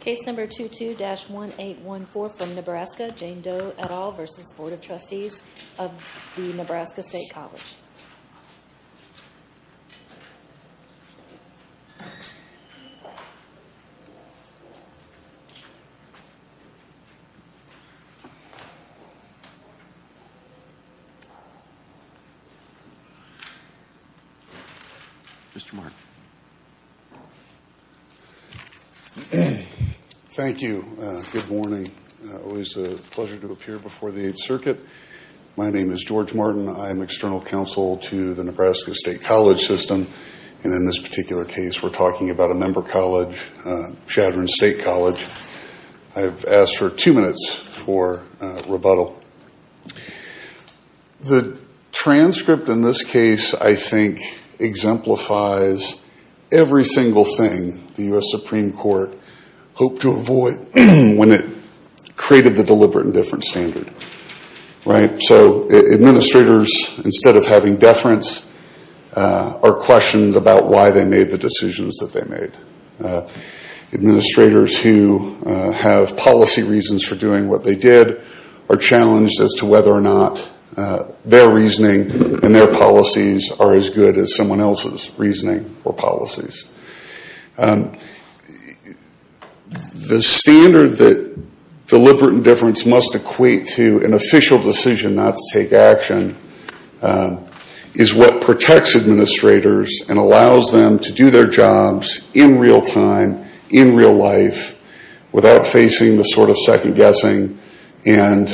Case number 22-1814 from Nebraska, Jane Doe et al. v. Board of Trustees of the Nebraska State Colleges Mr. Martin Thank you. Good morning. Always a pleasure to appear before the Eighth Circuit. My name is George Martin. I am external counsel to the Nebraska State College System. And in this particular case, we're talking about a member college, Chatham State College. I've asked for two minutes for rebuttal. The transcript in this case, I think, exemplifies every single thing the U.S. Supreme Court hoped to avoid when it created the deliberate indifference standard. Administrators, instead of having deference, are questioned about why they made the decisions that they made. Administrators who have policy reasons for doing what they did are challenged as to whether or not their reasoning and their policies are as good as someone else's reasoning or policies. The standard that deliberate indifference must equate to an official decision not to take action is what protects administrators and allows them to do their jobs in real time, in real life, without facing the sort of second guessing and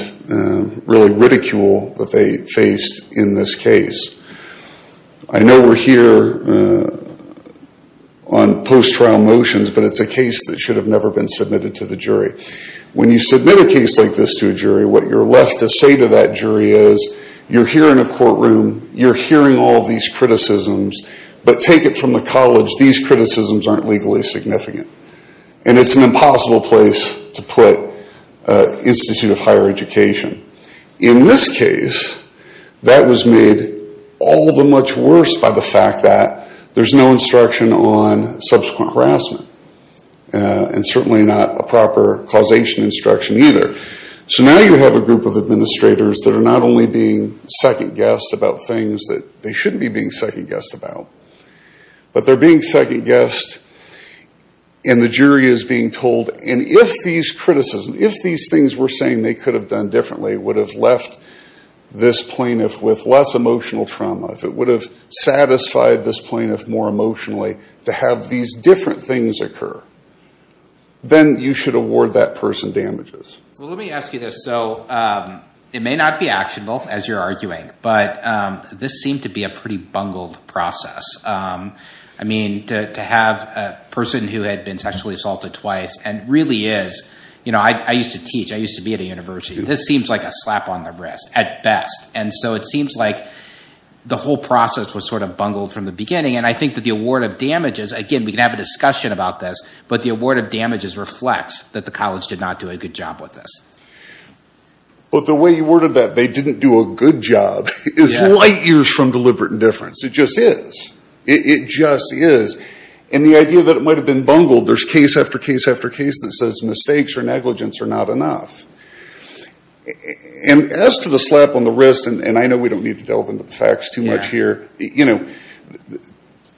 really ridicule that they faced in this case. I know we're here on post-trial motions, but it's a case that should have never been submitted to the jury. When you submit a case like this to a jury, what you're left to say to that jury is, you're here in a courtroom, you're hearing all these criticisms, but take it from the college, these criticisms aren't legally significant. And it's an impossible place to put Institute of Higher Education. In this case, that was made all the much worse by the fact that there's no instruction on subsequent harassment and certainly not a proper causation instruction either. So now you have a group of administrators that are not only being second guessed about things that they shouldn't be being second guessed about, but they're being second guessed and the jury is being told, and if these criticisms, if these things we're saying they could have done differently would have left this plaintiff with less emotional trauma, if it would have satisfied this plaintiff more emotionally to have these different things occur, then you should award that person damages. Well, let me ask you this. So it may not be actionable, as you're arguing, but this seemed to be a pretty bungled process. I mean, to have a person who had been sexually assaulted twice and really is, you know, I used to teach, I used to be at a university, this seems like a slap on the wrist at best. And so it seems like the whole process was sort of bungled from the beginning, and I think that the award of damages, again, we can have a discussion about this, but the award of damages reflects that the college did not do a good job with this. But the way you worded that, they didn't do a good job, is light years from deliberate indifference. It just is. It just is. And the idea that it might have been bungled, there's case after case after case that says mistakes or negligence are not enough. And as to the slap on the wrist, and I know we don't need to delve into the facts too much here, you know,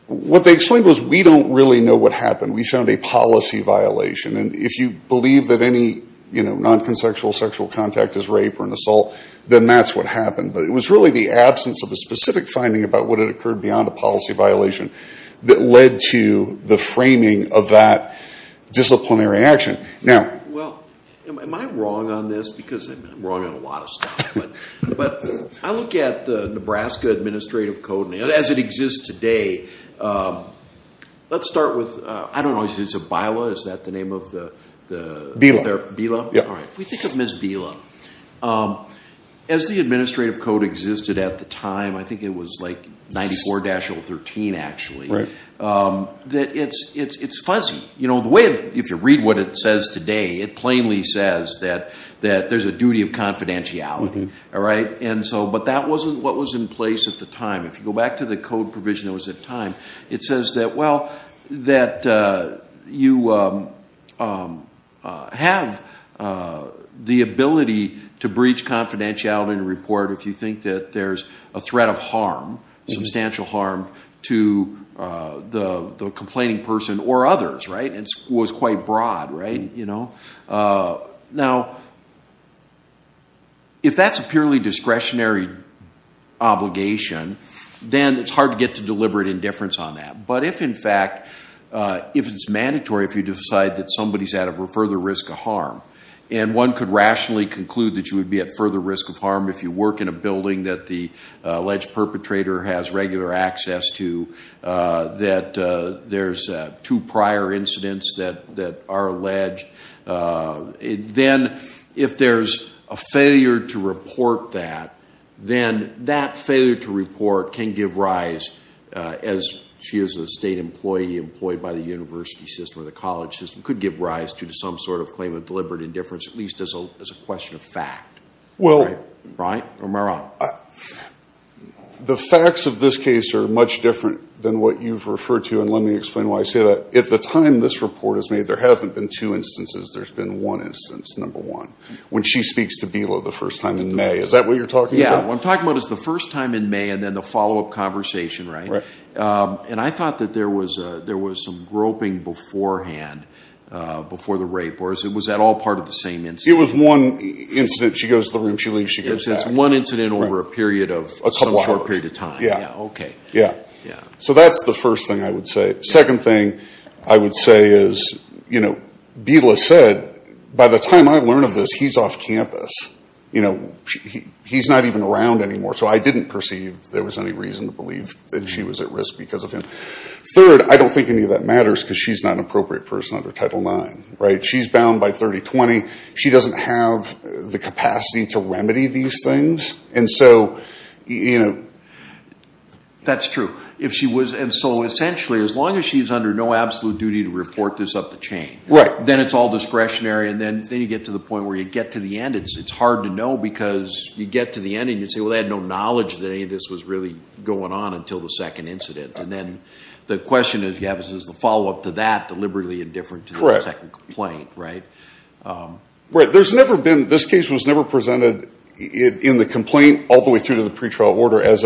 what they explained was we don't really know what happened. We found a policy violation, and if you believe that any, you know, non-consensual sexual contact is rape or an assault, then that's what happened. But it was really the absence of a specific finding about what had occurred beyond a policy violation that led to the framing of that disciplinary action. Well, am I wrong on this? Because I'm wrong on a lot of stuff. But I look at the Nebraska Administrative Code as it exists today. Let's start with, I don't know, is it BILA? Is that the name of the? BILA. BILA? All right. We think of Ms. BILA. As the Administrative Code existed at the time, I think it was like 94-013, actually. Right. It's fuzzy. You know, the way, if you read what it says today, it plainly says that there's a duty of confidentiality, all right? And so, but that wasn't what was in place at the time. If you go back to the code provision that was at the time, it says that, well, that you have the ability to breach confidentiality in a report if you think that there's a threat of harm, substantial harm, to the complaining person or others, right? And it was quite broad, right? Now, if that's a purely discretionary obligation, then it's hard to get to deliberate indifference on that. But if, in fact, if it's mandatory, if you decide that somebody's at a further risk of harm, and one could rationally conclude that you would be at further risk of harm if you work in a building that the alleged perpetrator has regular access to, that there's two prior incidents that are alleged, then if there's a failure to report that, then that failure to report can give rise, as she is a state employee employed by the university system or the college system, could give rise to some sort of claim of deliberate indifference, at least as a question of fact. Right? Or am I wrong? The facts of this case are much different than what you've referred to, and let me explain why I say that. At the time this report is made, there haven't been two instances. There's been one instance, number one, when she speaks to Bilo the first time in May. Is that what you're talking about? Yeah, what I'm talking about is the first time in May and then the follow-up conversation, right? And I thought that there was some groping beforehand before the rape. Or was that all part of the same incident? It was one incident. She goes to the room. She leaves. She goes back. It's one incident over a period of some short period of time. Yeah. Okay. Yeah. So that's the first thing I would say. Second thing I would say is, you know, Bilo said, by the time I learn of this, he's off campus. You know, he's not even around anymore. So I didn't perceive there was any reason to believe that she was at risk because of him. Third, I don't think any of that matters because she's not an appropriate person under Title IX. Right? She's bound by 3020. She doesn't have the capacity to remedy these things. And so, you know. That's true. If she was. And so essentially, as long as she's under no absolute duty to report this up the chain. Right. Then it's all discretionary. And then you get to the point where you get to the end. It's hard to know because you get to the end and you say, well, they had no knowledge that any of this was really going on until the second incident. And then the question is, is the follow-up to that deliberately indifferent to the second complaint? Correct. Right? Right. There's never been. This case was never presented in the complaint all the way through to the pretrial order as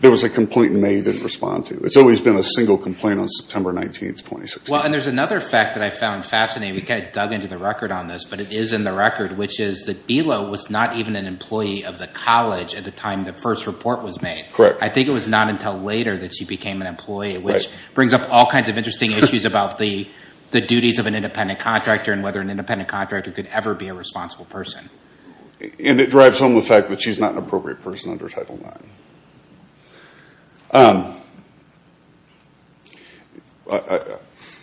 there was a complaint made and didn't respond to. It's always been a single complaint on September 19, 2016. Well, and there's another fact that I found fascinating. We kind of dug into the record on this, but it is in the record, which is that Bilo was not even an employee of the college at the time the first report was made. Correct. I think it was not until later that she became an employee. Right. Which brings up all kinds of interesting issues about the duties of an independent contractor and whether an independent contractor could ever be a responsible person. And it drives home the fact that she's not an appropriate person under Title IX.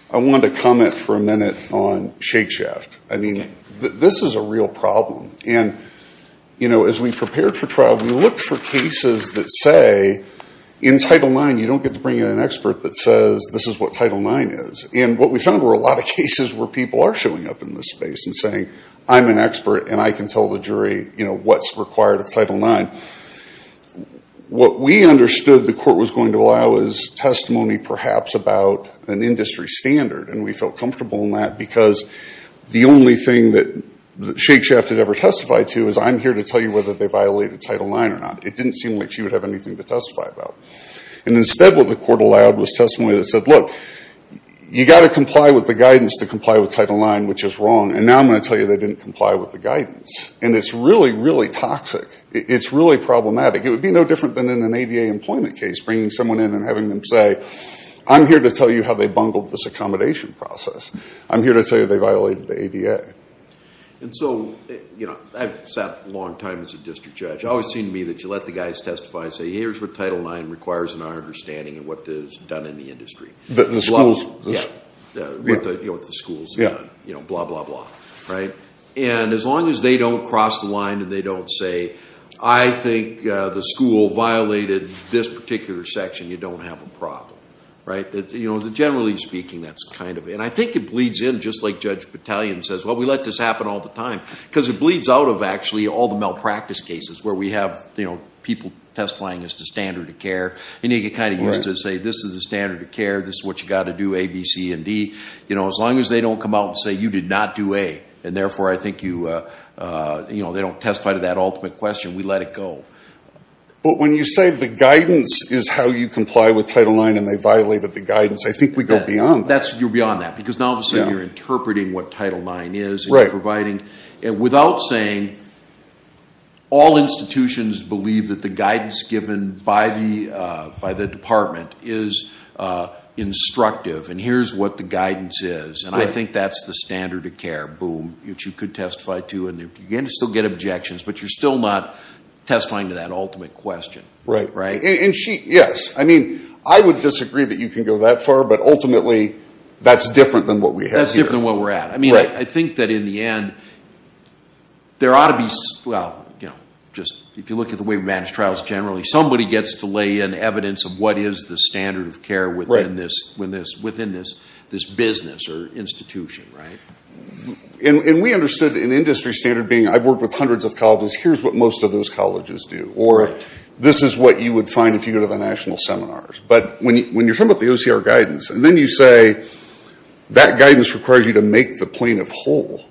I wanted to comment for a minute on Shake Shaft. I mean, this is a real problem. And, you know, as we prepared for trial, we looked for cases that say in Title IX you don't get to bring in an expert that says this is what Title IX is. And what we found were a lot of cases where people are showing up in this space and saying, I'm an expert and I can tell the jury, you know, what's required of Title IX. What we understood the court was going to allow is testimony perhaps about an industry standard. And we felt comfortable in that because the only thing that Shake Shaft had ever testified to is I'm here to tell you whether they violated Title IX or not. It didn't seem like she would have anything to testify about. And instead what the court allowed was testimony that said, look, you've got to comply with the guidance to comply with Title IX, which is wrong. And now I'm going to tell you they didn't comply with the guidance. And it's really, really toxic. It's really problematic. It would be no different than in an ADA employment case, bringing someone in and having them say, I'm here to tell you how they bungled this accommodation process. I'm here to tell you they violated the ADA. And so, you know, I've sat a long time as a district judge. It always seemed to me that you let the guys testify and say, here's what Title IX requires in our understanding of what is done in the industry. The schools. Yeah. You know, with the schools. Yeah. You know, blah, blah, blah. Right? And as long as they don't cross the line and they don't say, I think the school violated this particular section, you don't have a problem. Right? You know, generally speaking, that's kind of it. And I think it bleeds in, just like Judge Battalion says, well, we let this happen all the time. Because it bleeds out of, actually, all the malpractice cases where we have, you know, people testifying as the standard of care. And you get kind of used to say, this is the standard of care. This is what you've got to do, A, B, C, and D. You know, as long as they don't come out and say, you did not do A. And therefore, I think you, you know, they don't testify to that ultimate question. We let it go. But when you say the guidance is how you comply with Title IX and they violated the guidance, I think we go beyond that. You're beyond that. Because now, obviously, you're interpreting what Title IX is. Right. Without saying, all institutions believe that the guidance given by the department is instructive. And here's what the guidance is. And I think that's the standard of care, boom. Which you could testify to. And you can still get objections. But you're still not testifying to that ultimate question. Right. Right? Yes. I mean, I would disagree that you can go that far. But ultimately, that's different than what we have here. That's different than where we're at. Right. I mean, I think that in the end, there ought to be, well, you know, just if you look at the way we manage trials generally, somebody gets to lay in evidence of what is the standard of care within this business or institution, right? And we understood an industry standard being, I've worked with hundreds of colleges. Here's what most of those colleges do. Or this is what you would find if you go to the national seminars. But when you're talking about the OCR guidance, and then you say that guidance requires you to make the plaintiff whole,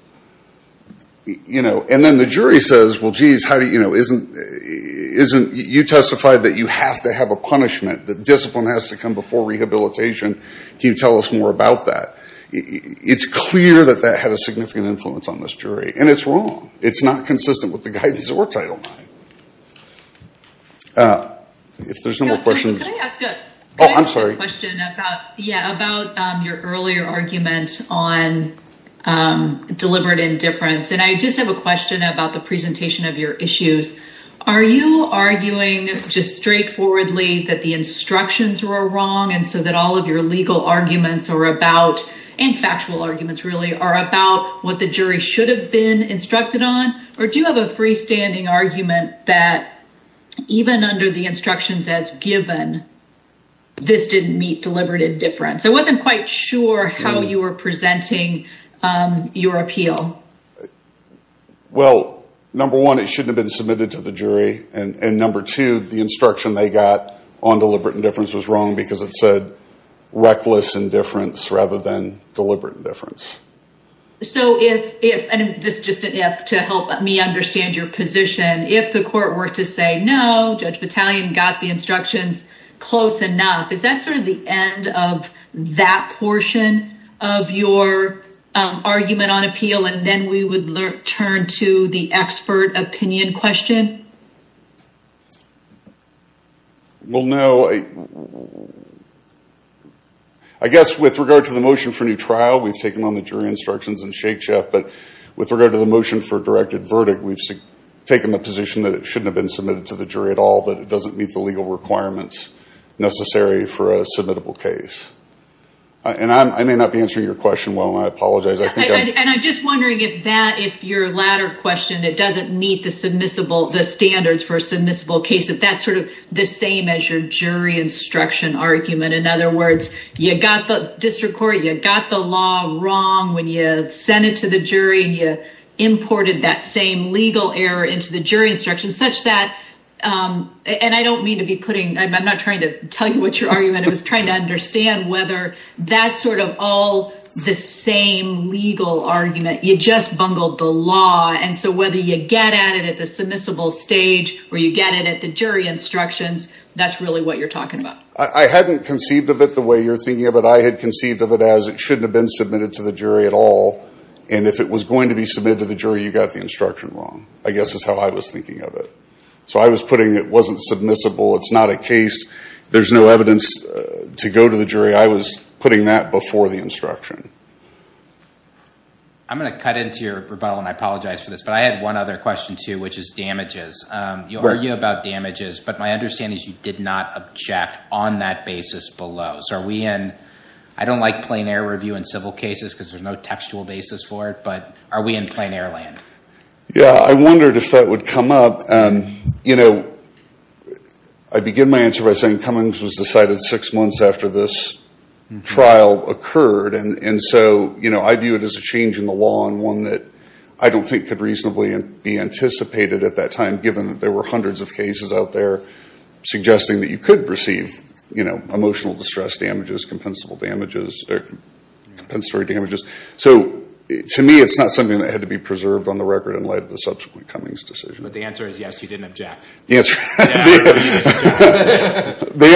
you know, and then the jury says, well, geez, you testified that you have to have a punishment, that discipline has to come before rehabilitation. Can you tell us more about that? It's clear that that had a significant influence on this jury. And it's wrong. It's not consistent with the guidance that we're titled on. If there's no more questions. Oh, I'm sorry. Yeah. About your earlier argument on deliberate indifference. And I just have a question about the presentation of your issues. Are you arguing just straightforwardly that the instructions were wrong? And so that all of your legal arguments are about and factual arguments really are about what the jury should have been instructed on? Or do you have a freestanding argument that even under the instructions as given, this didn't meet deliberate indifference? I wasn't quite sure how you were presenting your appeal. Well, number one, it shouldn't have been submitted to the jury. And number two, the instruction they got on deliberate indifference was wrong because it said reckless indifference rather than deliberate indifference. So if this just to help me understand your position, if the court were to say, no, Judge Battalion got the instructions close enough. Is that sort of the end of that portion of your argument on appeal? And then we would turn to the expert opinion question. Well, no. I guess with regard to the motion for new trial, we've taken on the jury instructions in Shake Shack. But with regard to the motion for a directed verdict, we've taken the position that it shouldn't have been submitted to the jury at all, that it doesn't meet the legal requirements necessary for a submittable case. And I may not be answering your question well, and I apologize. And I'm just wondering if that if your latter question, it doesn't meet the submissible standards for a submissible case. That's sort of the same as your jury instruction argument. In other words, you got the district court, you got the law wrong when you sent it to the jury. You imported that same legal error into the jury instruction such that and I don't mean to be putting I'm not trying to tell you what you're arguing. But I was trying to understand whether that's sort of all the same legal argument. You just bungled the law. And so whether you get at it at the submissible stage or you get it at the jury instructions, that's really what you're talking about. I hadn't conceived of it the way you're thinking of it. I had conceived of it as it shouldn't have been submitted to the jury at all. And if it was going to be submitted to the jury, you got the instruction wrong, I guess, is how I was thinking of it. So I was putting it wasn't submissible. It's not a case. There's no evidence to go to the jury. I was putting that before the instruction. I'm going to cut into your rebuttal and I apologize for this. But I had one other question, too, which is damages. You argue about damages. But my understanding is you did not object on that basis below. So are we in I don't like plain air review in civil cases because there's no textual basis for it. But are we in plain air land? Yeah, I wondered if that would come up. I begin my answer by saying Cummings was decided six months after this trial occurred. And so I view it as a change in the law and one that I don't think could reasonably be anticipated at that time, given that there were hundreds of cases out there suggesting that you could receive emotional distress damages, compensatory damages. So to me, it's not something that had to be preserved on the record in light of the subsequent Cummings decision. But the answer is, yes, you didn't object. The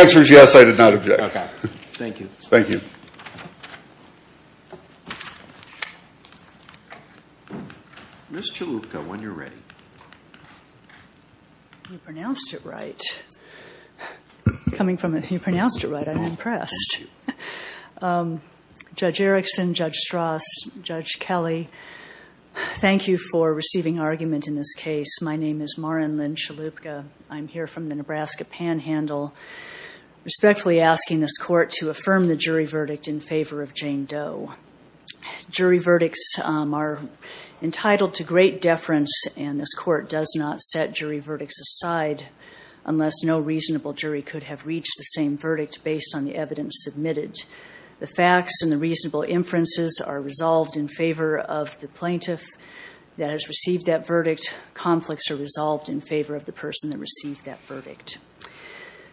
answer is, yes, I did not object. Thank you. Thank you. Ms. Chalupka, when you're ready. You pronounced it right. Coming from you pronounced it right, I'm impressed. Judge Erickson, Judge Strauss, Judge Kelly, thank you for receiving argument in this case. My name is Maren Lynn Chalupka. I'm here from the Nebraska Panhandle respectfully asking this court to affirm the jury verdict in favor of Jane Doe. Jury verdicts are entitled to great deference, and this court does not set jury verdicts aside unless no reasonable jury could have reached the same verdict based on the evidence submitted. The facts and the reasonable inferences are resolved in favor of the plaintiff that has received that verdict. Conflicts are resolved in favor of the person that received that verdict.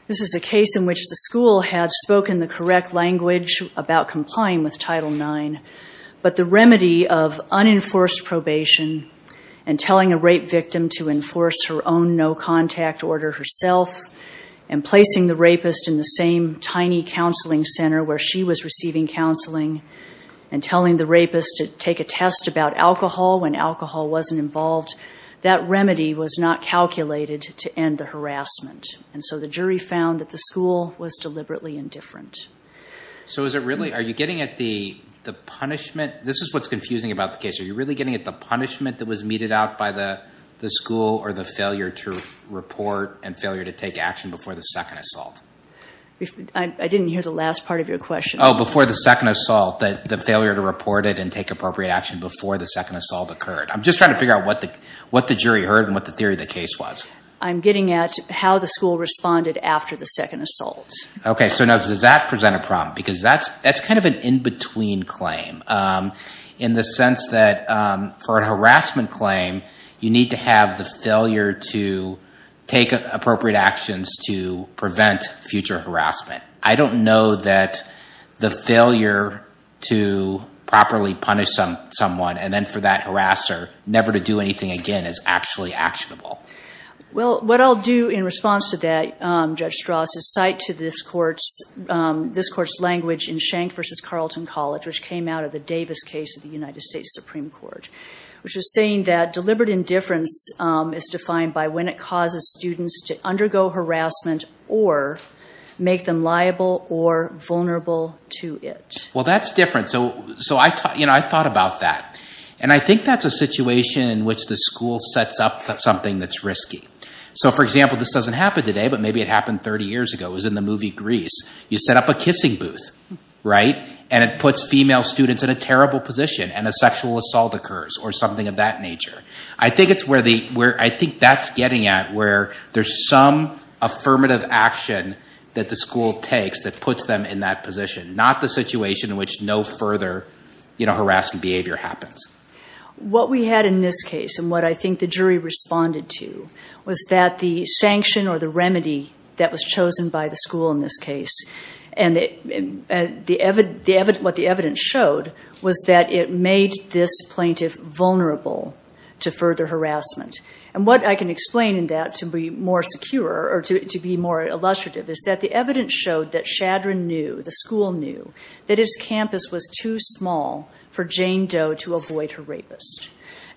This is a case in which the school had spoken the correct language about complying with Title IX, but the remedy of unenforced probation and telling a rape victim to enforce her own no-contact order herself and placing the rapist in the same tiny counseling center where she was receiving counseling and telling the rapist to take a test about alcohol when alcohol wasn't involved, that remedy was not calculated to end the harassment. And so the jury found that the school was deliberately indifferent. So is it really, are you getting at the punishment? This is what's confusing about the case. Are you really getting at the punishment that was meted out by the school or the failure to report and failure to take action before the second assault? I didn't hear the last part of your question. Oh, before the second assault, the failure to report it and take appropriate action before the second assault occurred. I'm just trying to figure out what the jury heard and what the theory of the case was. I'm getting at how the school responded after the second assault. Okay, so now does that present a problem? Because that's kind of an in-between claim in the sense that for a harassment claim, you need to have the failure to take appropriate actions to prevent future harassment. I don't know that the failure to properly punish someone and then for that harasser never to do anything again is actually actionable. Well, what I'll do in response to that, Judge Strauss, is cite to this court's language in Schenck v. Carleton College, which came out of the Davis case of the United States Supreme Court, which was saying that deliberate indifference is defined by when it causes students to undergo harassment or make them liable or vulnerable to it. Well, that's different. So I thought about that. And I think that's a situation in which the school sets up something that's risky. So, for example, this doesn't happen today, but maybe it happened 30 years ago. It was in the movie Grease. You set up a kissing booth, right, and it puts female students in a terrible position and a sexual assault occurs or something of that nature. I think that's getting at where there's some affirmative action that the school takes that puts them in that position, not the situation in which no further harassment behavior happens. What we had in this case and what I think the jury responded to was that the sanction or the remedy that was chosen by the school in this case and what the evidence showed was that it made this plaintiff vulnerable to further harassment. And what I can explain in that to be more secure or to be more illustrative is that the evidence showed that Shadron knew, the school knew, that his campus was too small for Jane Doe to avoid her rapist.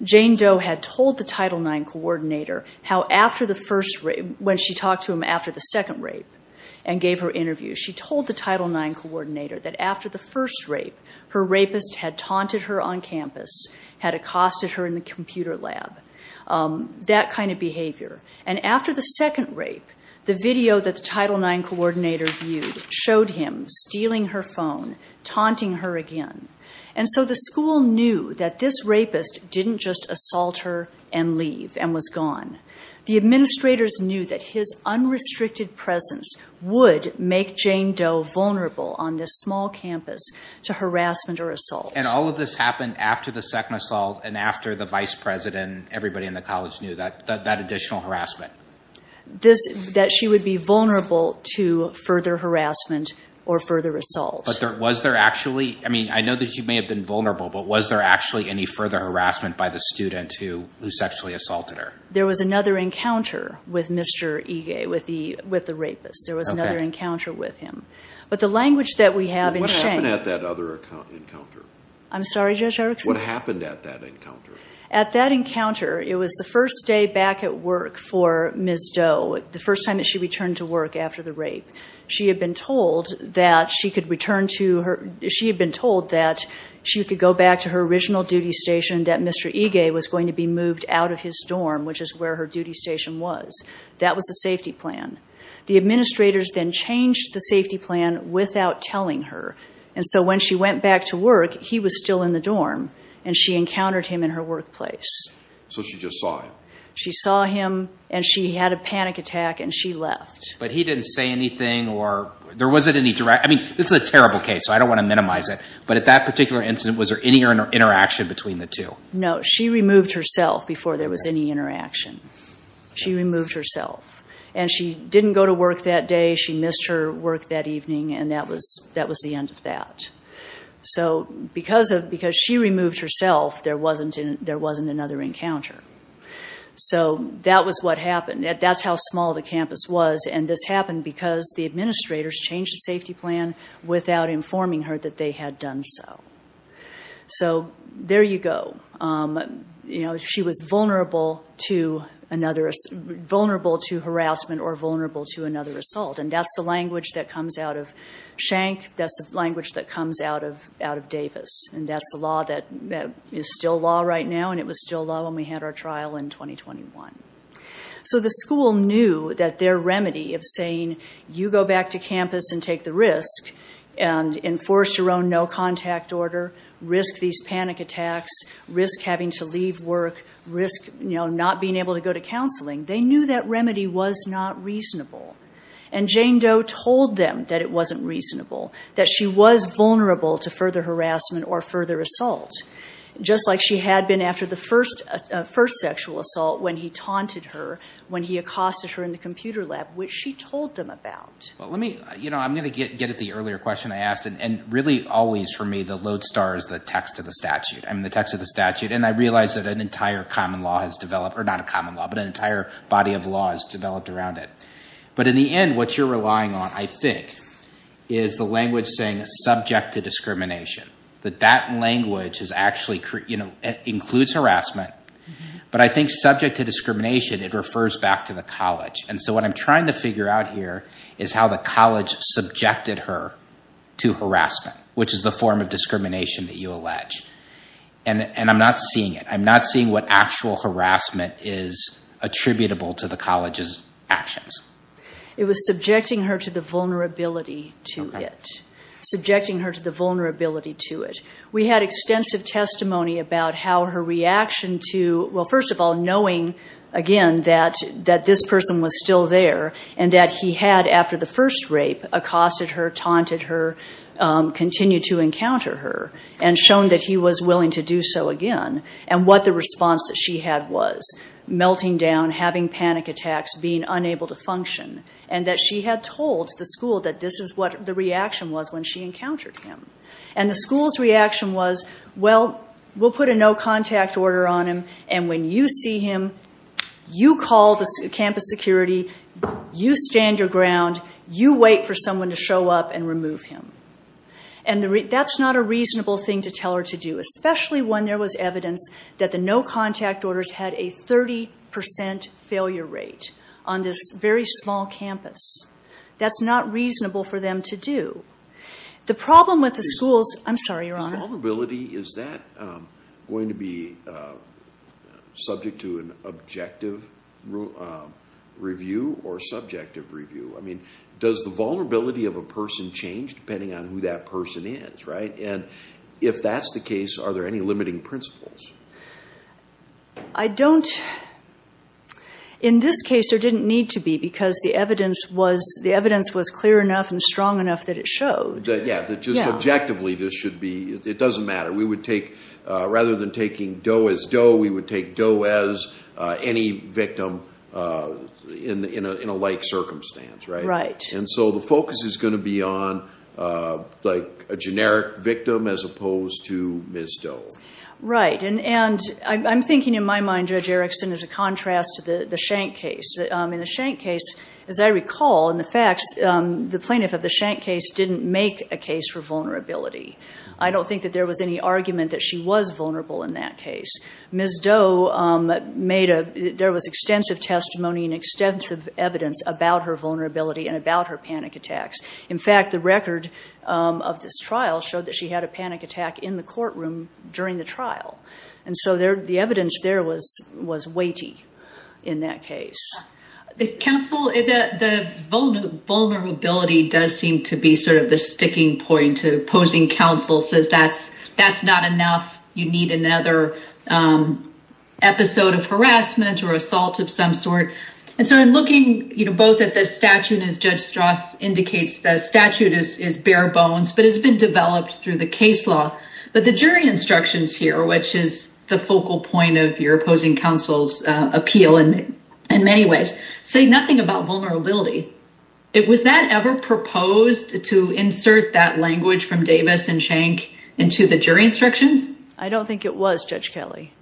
Jane Doe had told the Title IX coordinator how after the first rape, when she talked to him after the second rape and gave her interview, she told the Title IX coordinator that after the first rape, her rapist had taunted her on campus, had accosted her in the computer lab, that kind of behavior. And after the second rape, the video that the Title IX coordinator viewed showed him stealing her phone, taunting her again. And so the school knew that this rapist didn't just assault her and leave and was gone. The administrators knew that his unrestricted presence would make Jane Doe vulnerable on this small campus to harassment or assault. And all of this happened after the second assault and after the vice president, and everybody in the college knew that additional harassment. That she would be vulnerable to further harassment or further assault. But was there actually, I mean, I know that she may have been vulnerable, but was there actually any further harassment by the student who sexually assaulted her? There was another encounter with Mr. Ige, with the rapist. There was another encounter with him. But the language that we have in shame— What happened at that other encounter? I'm sorry, Judge Erickson? What happened at that encounter? At that encounter, it was the first day back at work for Ms. Doe, the first time that she returned to work after the rape. She had been told that she could go back to her original duty station, that Mr. Ige was going to be moved out of his dorm, which is where her duty station was. That was the safety plan. The administrators then changed the safety plan without telling her. And so when she went back to work, he was still in the dorm, and she encountered him in her workplace. So she just saw him? She saw him, and she had a panic attack, and she left. But he didn't say anything, or there wasn't any direct— I mean, this is a terrible case, so I don't want to minimize it. But at that particular incident, was there any interaction between the two? No. She removed herself before there was any interaction. She removed herself. And she didn't go to work that day. She missed her work that evening, and that was the end of that. So because she removed herself, there wasn't another encounter. So that was what happened. That's how small the campus was. And this happened because the administrators changed the safety plan without informing her that they had done so. So there you go. She was vulnerable to harassment or vulnerable to another assault. And that's the language that comes out of Schenck. That's the language that comes out of Davis, and that's the law that is still law right now, and it was still law when we had our trial in 2021. So the school knew that their remedy of saying, you go back to campus and take the risk and enforce your own no-contact order, risk these panic attacks, risk having to leave work, risk not being able to go to counseling, they knew that remedy was not reasonable. And Jane Doe told them that it wasn't reasonable, that she was vulnerable to further harassment or further assault, just like she had been after the first sexual assault when he taunted her, when he accosted her in the computer lab, which she told them about. Well, let me, you know, I'm going to get at the earlier question I asked, and really always for me the lodestar is the text of the statute, I mean the text of the statute, and I realize that an entire common law has developed, or not a common law, but an entire body of law has developed around it. But in the end, what you're relying on, I think, is the language saying subject to discrimination, that that language is actually, you know, includes harassment, but I think subject to discrimination, it refers back to the college. And so what I'm trying to figure out here is how the college subjected her to harassment, which is the form of discrimination that you allege. And I'm not seeing it, I'm not seeing what actual harassment is attributable to the college's actions. It was subjecting her to the vulnerability to it. Subjecting her to the vulnerability to it. We had extensive testimony about how her reaction to, well, first of all, knowing, again, that this person was still there, and that he had, after the first rape, accosted her, taunted her, continued to encounter her, and shown that he was willing to do so again, and what the response that she had was. Melting down, having panic attacks, being unable to function. And that she had told the school that this is what the reaction was when she encountered him. And the school's reaction was, well, we'll put a no contact order on him, and when you see him, you call the campus security, you stand your ground, you wait for someone to show up and remove him. And that's not a reasonable thing to tell her to do, especially when there was evidence that the no contact orders had a 30% failure rate on this very small campus. That's not reasonable for them to do. The problem with the school's... I'm sorry, Your Honor. The vulnerability, is that going to be subject to an objective review or subjective review? I mean, does the vulnerability of a person change depending on who that person is, right? And if that's the case, are there any limiting principles? I don't... In this case, there didn't need to be, because the evidence was clear enough and strong enough that it showed. Yeah, that just subjectively this should be... It doesn't matter. Rather than taking Doe as Doe, we would take Doe as any victim in a like circumstance, right? Right. And so the focus is going to be on a generic victim as opposed to Ms. Doe. Right. And I'm thinking in my mind, Judge Erickson, as a contrast to the Schenck case. In the Schenck case, as I recall, in the facts, the plaintiff of the Schenck case didn't make a case for vulnerability. I don't think that there was any argument that she was vulnerable in that case. Ms. Doe made a... There was extensive testimony and extensive evidence about her vulnerability and about her panic attacks. In fact, the record of this trial showed that she had a panic attack in the courtroom during the trial. And so the evidence there was weighty in that case. Counsel, the vulnerability does seem to be sort of the sticking point to opposing counsel, says that's not enough. You need another episode of harassment or assault of some sort. And so in looking both at the statute, as Judge Strauss indicates, the statute is bare bones, but it's been developed through the case law. But the jury instructions here, which is the focal point of your opposing counsel's appeal in many ways, say nothing about vulnerability. Was that ever proposed to insert that language from Davis and Schenck into the jury instructions? I don't think it was, Judge Kelly.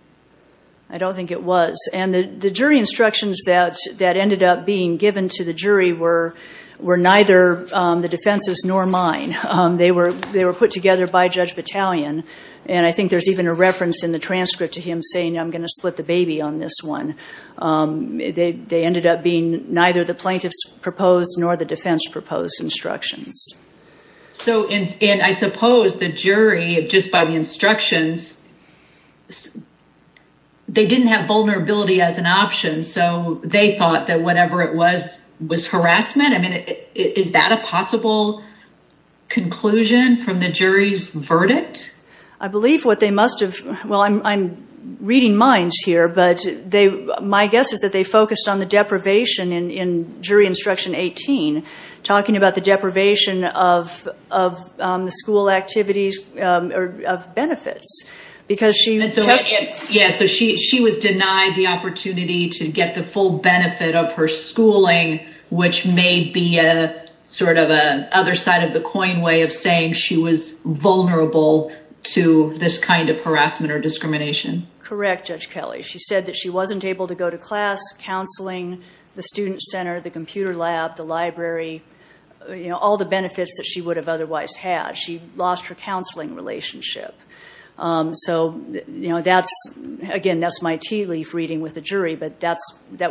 I don't think it was. And the jury instructions that ended up being given to the jury were neither the defense's nor mine. They were put together by Judge Battalion. And I think there's even a reference in the transcript to him saying, I'm going to split the baby on this one. They ended up being neither the plaintiff's proposed nor the defense proposed instructions. And I suppose the jury, just by the instructions, they didn't have vulnerability as an option, so they thought that whatever it was was harassment. I mean, is that a possible conclusion from the jury's verdict? I believe what they must have, well, I'm reading minds here, but my guess is that they focused on the deprivation in jury instruction 18, talking about the deprivation of the school activities or benefits. Yes, so she was denied the opportunity to get the full benefit of her schooling, which may be sort of an other side of the coin way of saying she was vulnerable to this kind of harassment or discrimination. Correct, Judge Kelly. She said that she wasn't able to go to class, counseling, the student center, the computer lab, the library, all the benefits that she would have otherwise had. She lost her counseling relationship. So again, that's my tea leaf reading with the jury, but that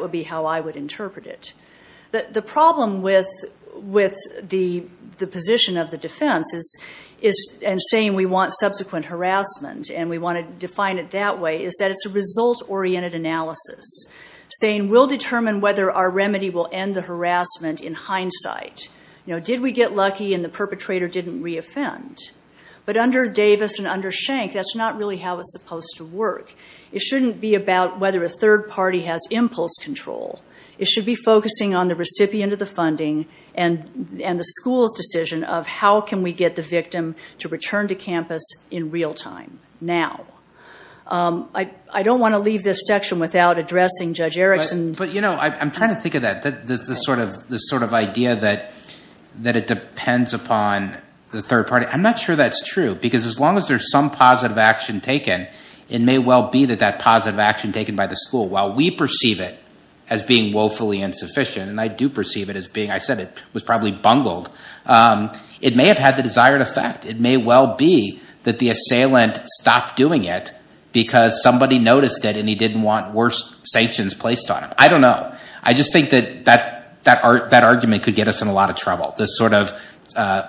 would be how I would interpret it. The problem with the position of the defense and saying we want subsequent harassment and we want to define it that way is that it's a result-oriented analysis, saying we'll determine whether our remedy will end the harassment in hindsight. Did we get lucky and the perpetrator didn't reoffend? But under Davis and under Schenck, that's not really how it's supposed to work. It shouldn't be about whether a third party has impulse control. It should be focusing on the recipient of the funding and the school's decision of how can we get the victim to return to campus in real time now. I don't want to leave this section without addressing Judge Erickson. But I'm trying to think of that, this sort of idea that it depends upon the third party. I'm not sure that's true because as long as there's some positive action taken, it may well be that that positive action taken by the school, while we perceive it as being woefully insufficient, and I do perceive it as being – I said it was probably bungled. It may have had the desired effect. It may well be that the assailant stopped doing it because somebody noticed it and he didn't want worse sanctions placed on him. I don't know. I just think that that argument could get us in a lot of trouble, this sort of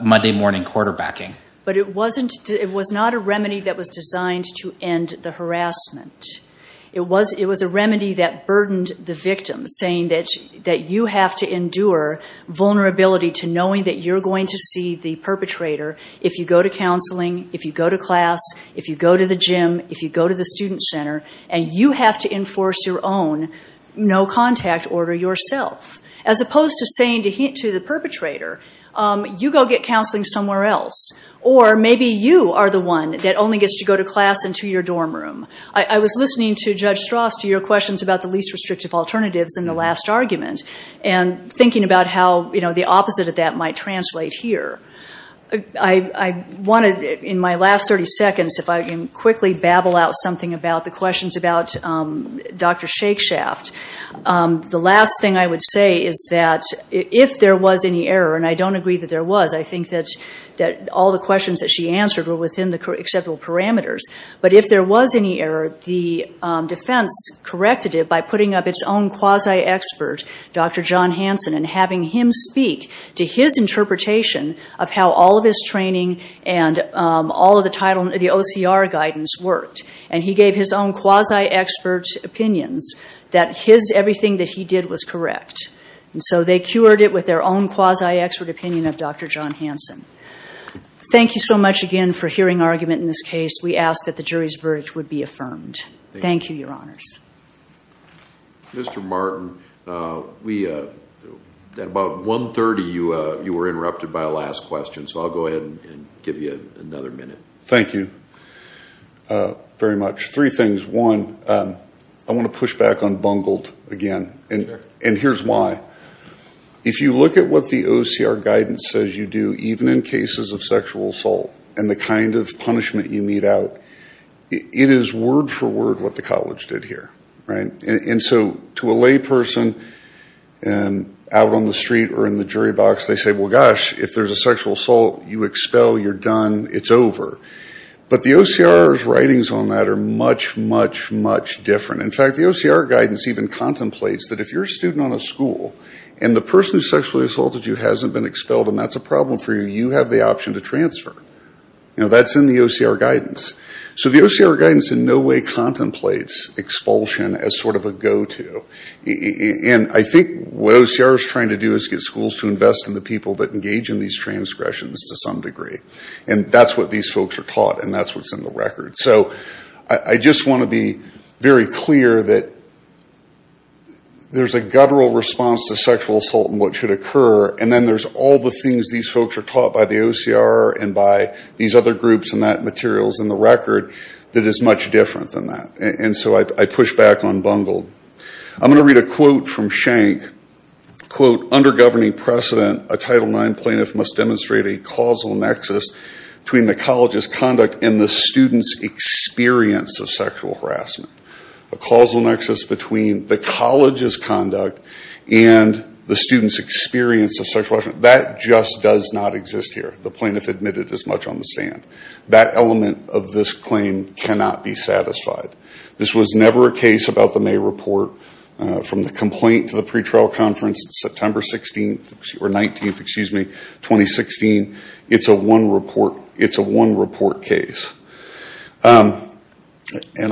Monday morning quarterbacking. But it wasn't – it was not a remedy that was designed to end the harassment. It was a remedy that burdened the victim, saying that you have to endure vulnerability to knowing that you're going to see the perpetrator if you go to counseling, if you go to class, if you go to the gym, if you go to the student center, and you have to enforce your own no-contact order yourself, as opposed to saying to the perpetrator, you go get counseling somewhere else, or maybe you are the one that only gets to go to class and to your dorm room. I was listening to Judge Strass to your questions about the least restrictive alternatives in the last argument and thinking about how the opposite of that might translate here. I wanted, in my last 30 seconds, if I can quickly babble out something about the questions about Dr. Shakespeare. The last thing I would say is that if there was any error, and I don't agree that there was. I think that all the questions that she answered were within the acceptable parameters. But if there was any error, the defense corrected it by putting up its own quasi-expert, Dr. John Hansen, and having him speak to his interpretation of how all of his training and all of the OCR guidance worked. And he gave his own quasi-expert opinions that everything that he did was correct. And so they cured it with their own quasi-expert opinion of Dr. John Hansen. Thank you so much again for hearing our argument in this case. We ask that the jury's verdict would be affirmed. Thank you, Your Honors. Mr. Martin, at about 1.30 you were interrupted by a last question, so I'll go ahead and give you another minute. Thank you very much. Three things. One, I want to push back on bungled again, and here's why. If you look at what the OCR guidance says you do, even in cases of sexual assault and the kind of punishment you mete out, it is word for word what the college did here. And so to a layperson out on the street or in the jury box, they say, well, gosh, if there's a sexual assault, you expel, you're done, it's over. But the OCR's writings on that are much, much, much different. In fact, the OCR guidance even contemplates that if you're a student on a school and the person who sexually assaulted you hasn't been expelled and that's a problem for you, you have the option to transfer. That's in the OCR guidance. So the OCR guidance in no way contemplates expulsion as sort of a go-to. And I think what OCR is trying to do is get schools to invest in the people that engage in these transgressions to some degree. And that's what these folks are taught, and that's what's in the record. So I just want to be very clear that there's a guttural response to sexual assault and what should occur, and then there's all the things these folks are taught by the OCR and by these other groups and materials in the record that is much different than that. And so I push back on bungled. I'm going to read a quote from Schenck. Under governing precedent, a Title IX plaintiff must demonstrate a causal nexus between the college's conduct and the student's experience of sexual harassment. A causal nexus between the college's conduct and the student's experience of sexual harassment. That just does not exist here. The plaintiff admitted as much on the stand. That element of this claim cannot be satisfied. This was never a case about the May report. From the complaint to the pretrial conference on September 19, 2016, it's a one-report case. And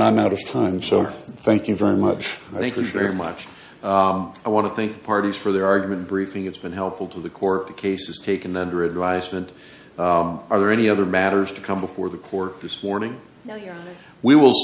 I'm out of time, so thank you very much. I appreciate it. Thank you very much. I want to thank the parties for their argument and briefing. It's been helpful to the court. The case is taken under advisement. Are there any other matters to come before the court this morning? No, Your Honor.